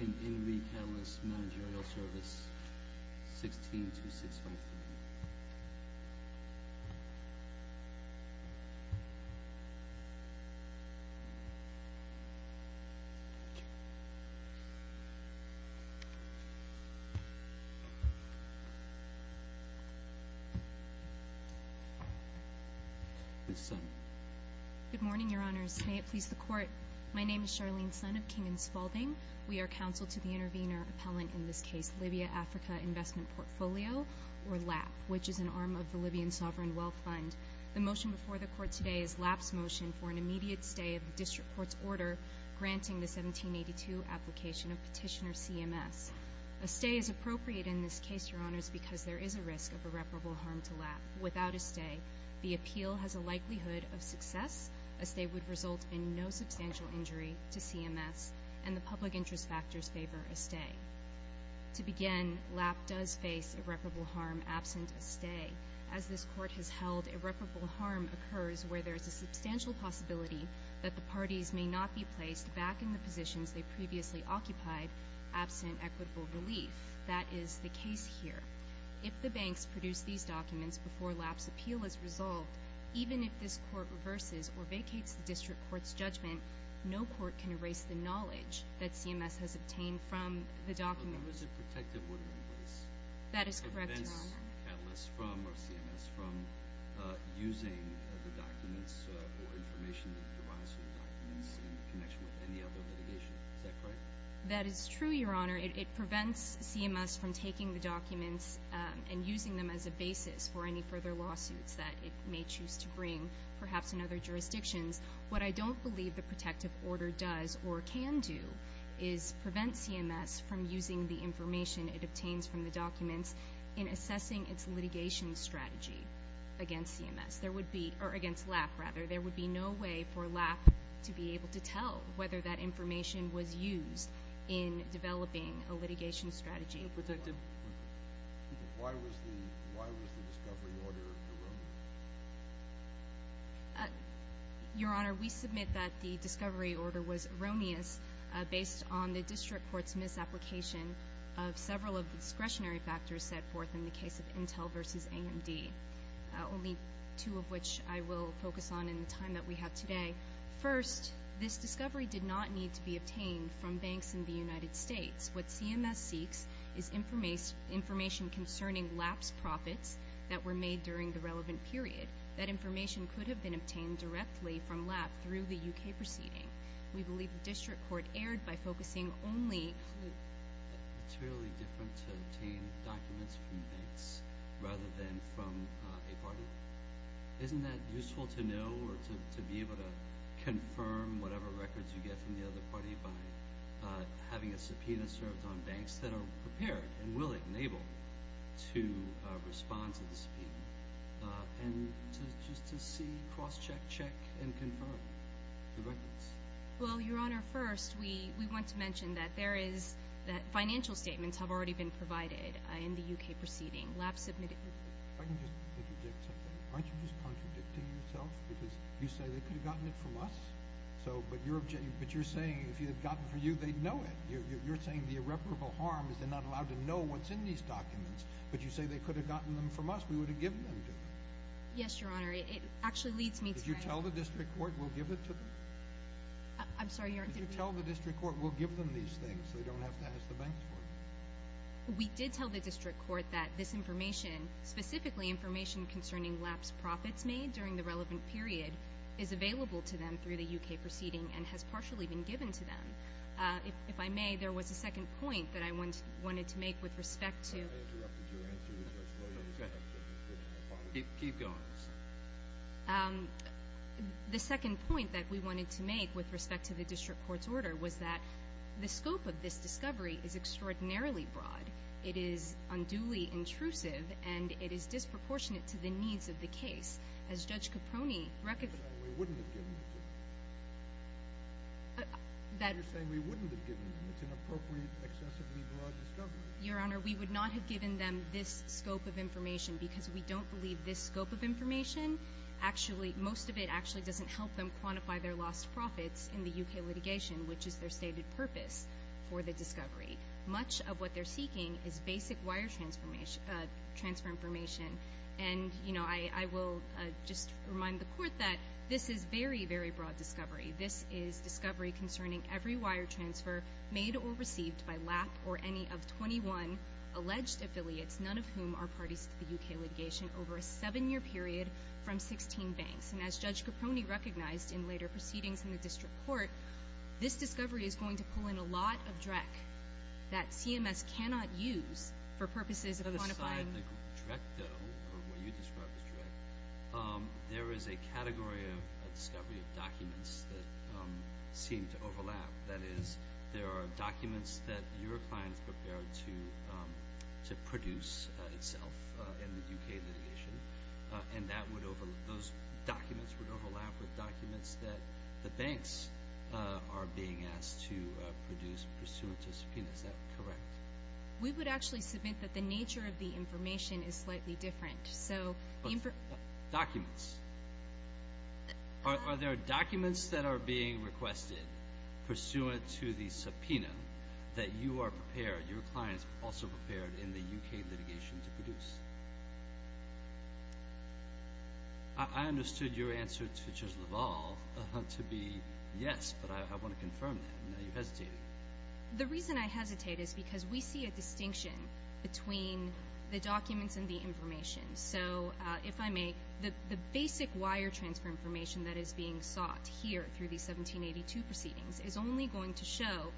In Re. Catalyst Managerial Service, 162653. Ms. Sun. Good morning, Your Honors. May it please the Court, my name is Charlene Sun of King & Spalding. We are counsel to the intervener appellant in this case, Libya-Africa Investment Portfolio, or LAP, which is an arm of the Libyan Sovereign Wealth Fund. The motion before the Court today is LAP's motion for an immediate stay of the District Court's order granting the 1782 application of Petitioner CMS. A stay is appropriate in this case, Your Honors, because there is a risk of irreparable harm to LAP. Without a stay, the appeal has a likelihood of success, a stay would result in no substantial injury to CMS, and the public interest factors favor a stay. To begin, LAP does face irreparable harm absent a stay. As this Court has held, irreparable harm occurs where there is a substantial possibility that the parties may not be placed back in the positions they previously occupied absent equitable relief. That is the case here. If the banks produce these documents before LAP's appeal is resolved, even if this Court reverses or vacates the District Court's judgment, no court can erase the knowledge that CMS has obtained from the documents. The numbers it protected wouldn't erase. That is correct, Your Honor. It prevents Catalyst from, or CMS, from using the documents or information that derives from the documents in connection with any other litigation. Is that correct? That is true, Your Honor. It prevents CMS from taking the documents and using them as a basis for any further lawsuits that it may choose to bring, perhaps in other jurisdictions. What I don't believe the protective order does or can do is prevent CMS from using the information it obtains from the documents in assessing its litigation strategy against LAP. There would be no way for LAP to be able to tell whether that information was used in developing a litigation strategy. Why was the discovery order erroneous? Your Honor, we submit that the discovery order was erroneous based on the District Court's misapplication of several of the discretionary factors set forth in the case of Intel v. AMD, only two of which I will focus on in the time that we have today. First, this discovery did not need to be obtained from banks in the United States. What CMS seeks is information concerning LAP's profits that were made during the relevant period. That information could have been obtained directly from LAP through the U.K. proceeding. We believe the District Court erred by focusing only... It's really different to obtain documents from banks rather than from a party. Isn't that useful to know or to be able to confirm whatever records you get from the other party by having a subpoena served on banks that are prepared and willing and able to respond to the subpoena and just to see, cross-check, check, and confirm the records? Well, Your Honor, first we want to mention that there is... that financial statements have already been provided in the U.K. proceeding. If I can just contradict something. Aren't you just contradicting yourself because you say they could have gotten it from us? But you're saying if they had gotten it from you, they'd know it. You're saying the irreparable harm is they're not allowed to know what's in these documents. But you say they could have gotten them from us. We would have given them to them. Yes, Your Honor. It actually leads me to... Did you tell the District Court we'll give it to them? I'm sorry, Your Honor, did we... Did you tell the District Court we'll give them these things so they don't have to ask the banks for them? We did tell the District Court that this information, specifically information concerning lapsed profits made during the relevant period, is available to them through the U.K. proceeding and has partially been given to them. If I may, there was a second point that I wanted to make with respect to... I interrupted your answer. Keep going. The second point that we wanted to make with respect to the District Court's order was that the scope of this discovery is extraordinarily broad. It is unduly intrusive, and it is disproportionate to the needs of the case. As Judge Caproni... We wouldn't have given it to them. You're saying we wouldn't have given them. It's an appropriate, excessively broad discovery. Your Honor, we would not have given them this scope of information because we don't believe this scope of information actually... most of it actually doesn't help them quantify their lost profits in the U.K. litigation, which is their stated purpose for the discovery. Much of what they're seeking is basic wire transfer information. And, you know, I will just remind the Court that this is very, very broad discovery. This is discovery concerning every wire transfer made or received by lap or any of 21 alleged affiliates, none of whom are parties to the U.K. litigation, over a seven-year period from 16 banks. And as Judge Caproni recognized in later proceedings in the district court, this discovery is going to pull in a lot of DREC that CMS cannot use for purposes of quantifying... Aside the DREC, though, or what you described as DREC, there is a category of discovery of documents that seem to overlap. That is, there are documents that your client is prepared to produce itself in the U.K. litigation, and those documents would overlap with documents that the banks are being asked to produce pursuant to subpoena. Is that correct? We would actually submit that the nature of the information is slightly different. Documents. Are there documents that are being requested pursuant to the subpoena that you are prepared, in the U.K. litigation, to produce? I understood your answer to Judge LaValle to be yes, but I want to confirm that. You hesitated. The reason I hesitate is because we see a distinction between the documents and the information. So if I may, the basic wire transfer information that is being sought here through the 1782 proceedings is only going to show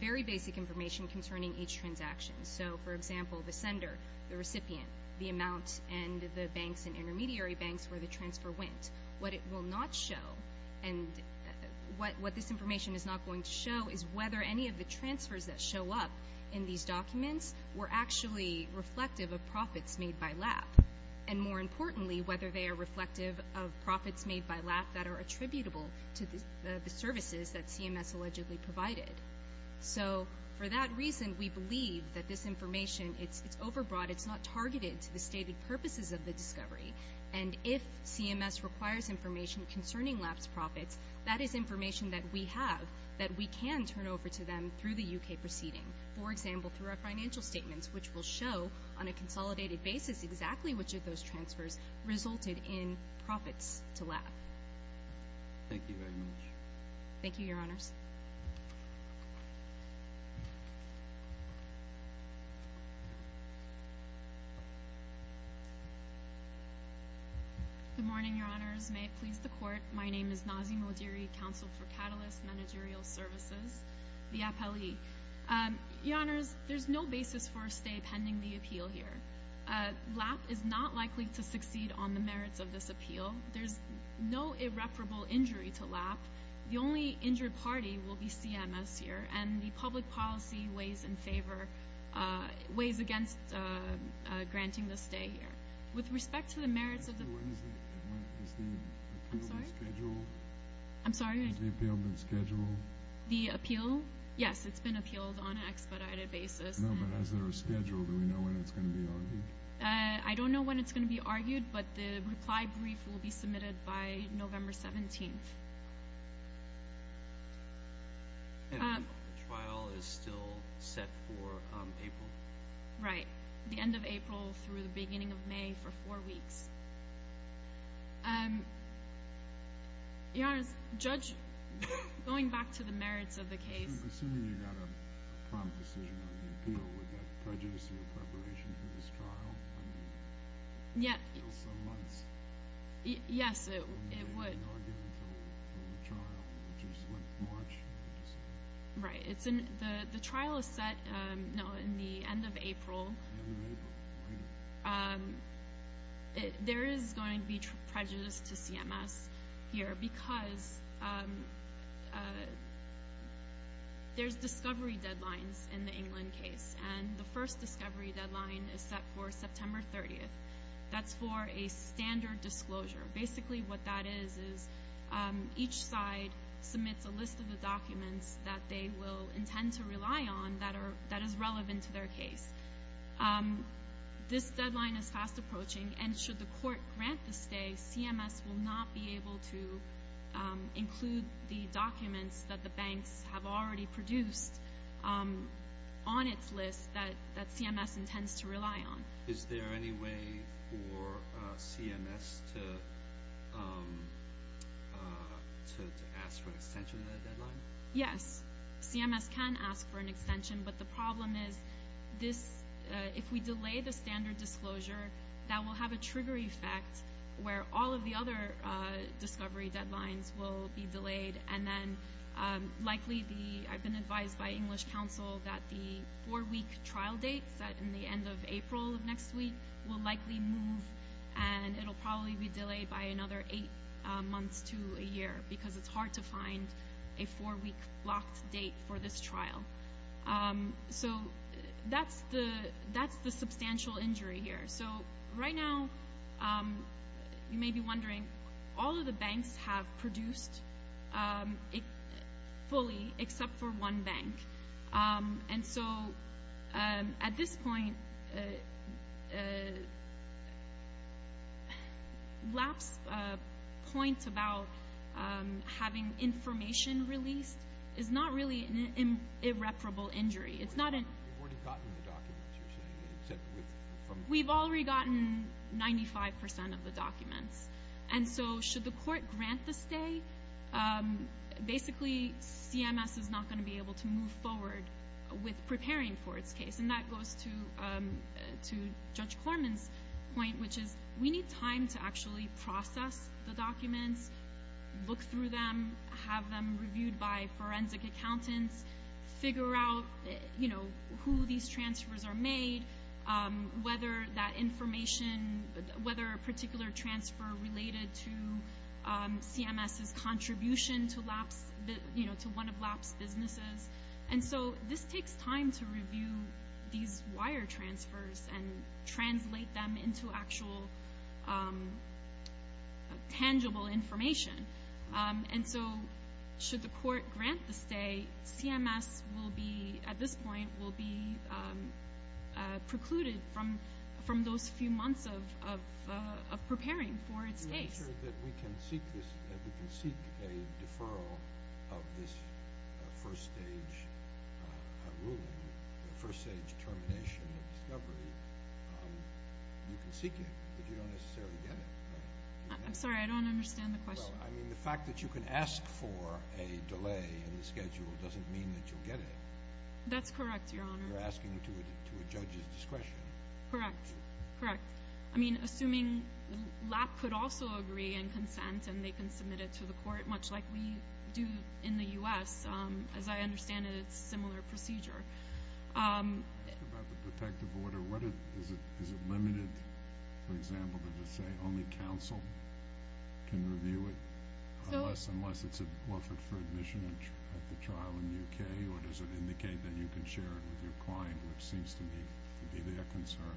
very basic information concerning each transaction. So, for example, the sender, the recipient, the amount, and the banks and intermediary banks where the transfer went. What it will not show, and what this information is not going to show, is whether any of the transfers that show up in these documents were actually reflective of profits made by LAP, and, more importantly, whether they are reflective of profits made by LAP that are attributable to the services that CMS allegedly provided. So, for that reason, we believe that this information is overbroad. It's not targeted to the stated purposes of the discovery. And if CMS requires information concerning LAP's profits, that is information that we have that we can turn over to them through the U.K. proceeding. For example, through our financial statements, which will show, on a consolidated basis, exactly which of those transfers resulted in profits to LAP. Thank you very much. Thank you, Your Honors. Good morning, Your Honors. May it please the Court. My name is Nazi Modiri, Counsel for Catalyst Managerial Services, the appellee. Your Honors, there's no basis for a stay pending the appeal here. LAP is not likely to succeed on the merits of this appeal. There's no irreparable injury to LAP. The only injured party will be CMS here, and the public policy weighs against granting the stay here. With respect to the merits of the appeal, yes, it's been appealed on an expedited basis. No, but is there a schedule? Do we know when it's going to be argued? I don't know when it's going to be argued, but the reply brief will be submitted by November 17th. And the trial is still set for April? Right, the end of April through the beginning of May for four weeks. Your Honors, going back to the merits of the case. Assuming you got a prompt decision on the appeal, would that prejudice your preparation for this trial? I mean, it's still some months. Yes, it would. It would be argued until the trial, which is, what, March? Right. The trial is set in the end of April. There is going to be prejudice to CMS here because there's discovery deadlines in the England case, and the first discovery deadline is set for September 30th. That's for a standard disclosure. Basically what that is is each side submits a list of the documents that they will intend to rely on that is relevant to their case. This deadline is fast approaching, and should the court grant the stay, CMS will not be able to include the documents that the banks have already produced on its list that CMS intends to rely on. Is there any way for CMS to ask for an extension of that deadline? Yes. CMS can ask for an extension, but the problem is if we delay the standard disclosure, that will have a trigger effect where all of the other discovery deadlines will be delayed, and I've been advised by English counsel that the four-week trial date set in the end of April of next week will likely move, and it will probably be delayed by another eight months to a year because it's hard to find a four-week blocked date for this trial. That's the substantial injury here. So right now you may be wondering, all of the banks have produced fully except for one bank, and so at this point lapse points about having information released is not really an irreparable injury. You've already gotten the documents, you're saying? We've already gotten 95% of the documents, and so should the court grant the stay, basically CMS is not going to be able to move forward with preparing for its case, and that goes to Judge Corman's point, which is we need time to actually process the documents, look through them, have them reviewed by forensic accountants, figure out who these transfers are made, whether that information, whether a particular transfer related to CMS's contribution to one of lapse businesses, and so this takes time to review these wire transfers and translate them into actual tangible information, and so should the court grant the stay, CMS at this point will be precluded from those few months of preparing for its case. The answer is that we can seek a deferral of this first stage ruling, the first stage termination of discovery. You can seek it, but you don't necessarily get it. I'm sorry, I don't understand the question. Well, I mean, the fact that you can ask for a delay in the schedule doesn't mean that you'll get it. That's correct, Your Honor. You're asking to a judge's discretion. Correct, correct. I mean, assuming LAP could also agree and consent and they can submit it to the court, much like we do in the U.S., as I understand it, it's a similar procedure. About the protective order, is it limited, for example, to just say only counsel can review it, unless it's offered for admission at the trial in the U.K., or does it indicate that you can share it with your client, which seems to me to be their concern?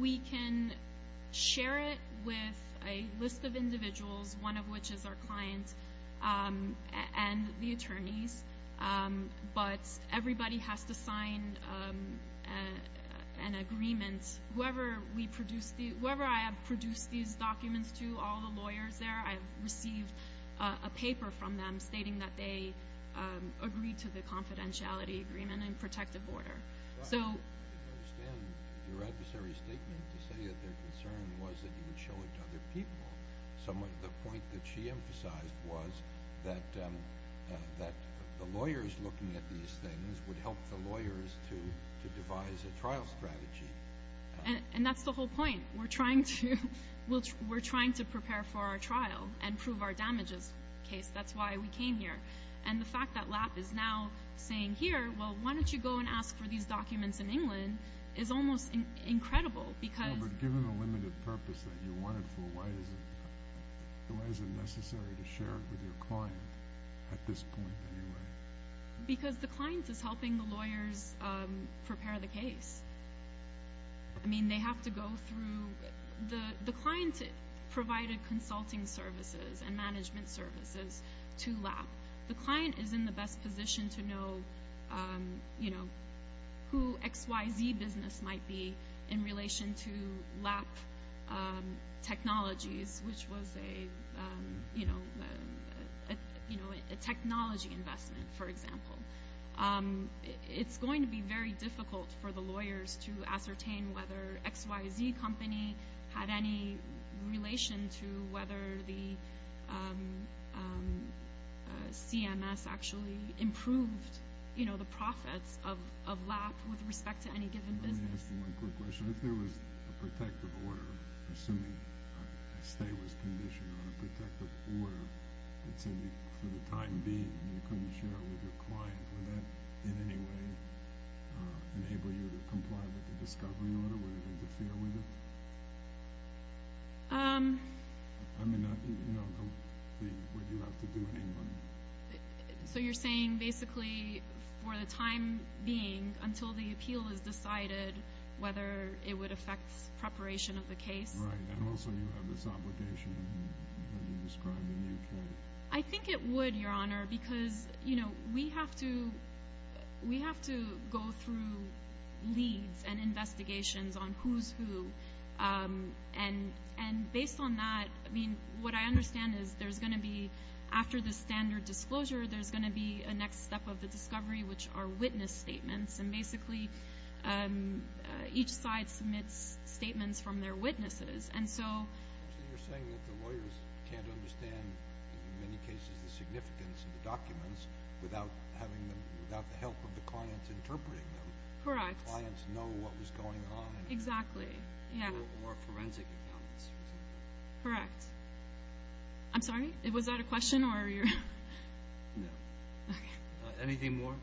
We can share it with a list of individuals, one of which is our client and the attorneys, but everybody has to sign an agreement. Whoever I have produced these documents to, all the lawyers there, I have received a paper from them stating that they agree to the confidentiality agreement and protective order. I understand your adversary's statement to say that their concern was that you would show it to other people. The point that she emphasized was that the lawyers looking at these things would help the lawyers to devise a trial strategy. And that's the whole point. We're trying to prepare for our trial and prove our damages case. That's why we came here. And the fact that LAP is now saying here, well, why don't you go and ask for these documents in England, is almost incredible. Well, but given the limited purpose that you want it for, why is it necessary to share it with your client at this point anyway? Because the client is helping the lawyers prepare the case. I mean, they have to go through – the client provided consulting services and management services to LAP. The client is in the best position to know, you know, who XYZ Business might be in relation to LAP Technologies, which was a, you know, a technology investment, for example. It's going to be very difficult for the lawyers to ascertain whether XYZ Company had any relation to whether the CMS actually improved, you know, the profits of LAP with respect to any given business. Let me ask you one quick question. If there was a protective order, assuming a stay was conditioned on a protective order, that said for the time being you couldn't share it with your client, would that in any way enable you to comply with the discovery order? Would it interfere with it? I mean, you know, the – what you have to do in England. So you're saying basically for the time being until the appeal is decided whether it would affect preparation of the case? Right. And also you have this obligation that you described in the UK. I think it would, Your Honor, because, you know, we have to go through leads and investigations on who's who. And based on that, I mean, what I understand is there's going to be – after the standard disclosure, there's going to be a next step of the discovery, which are witness statements. And basically each side submits statements from their witnesses. And so – So you're saying that the lawyers can't understand, in many cases, the significance of the documents without having them – without the help of the clients interpreting them. Correct. The clients know what was going on. Exactly. Yeah. More forensic accounts, for example. Correct. I'm sorry? Was that a question or are you – No. Okay. Anything more?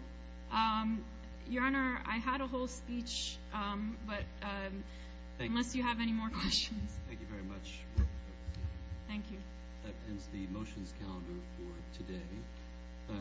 Your Honor, I had a whole speech, but unless you have any more questions – Thank you very much. Thank you. That ends the motions calendar for today.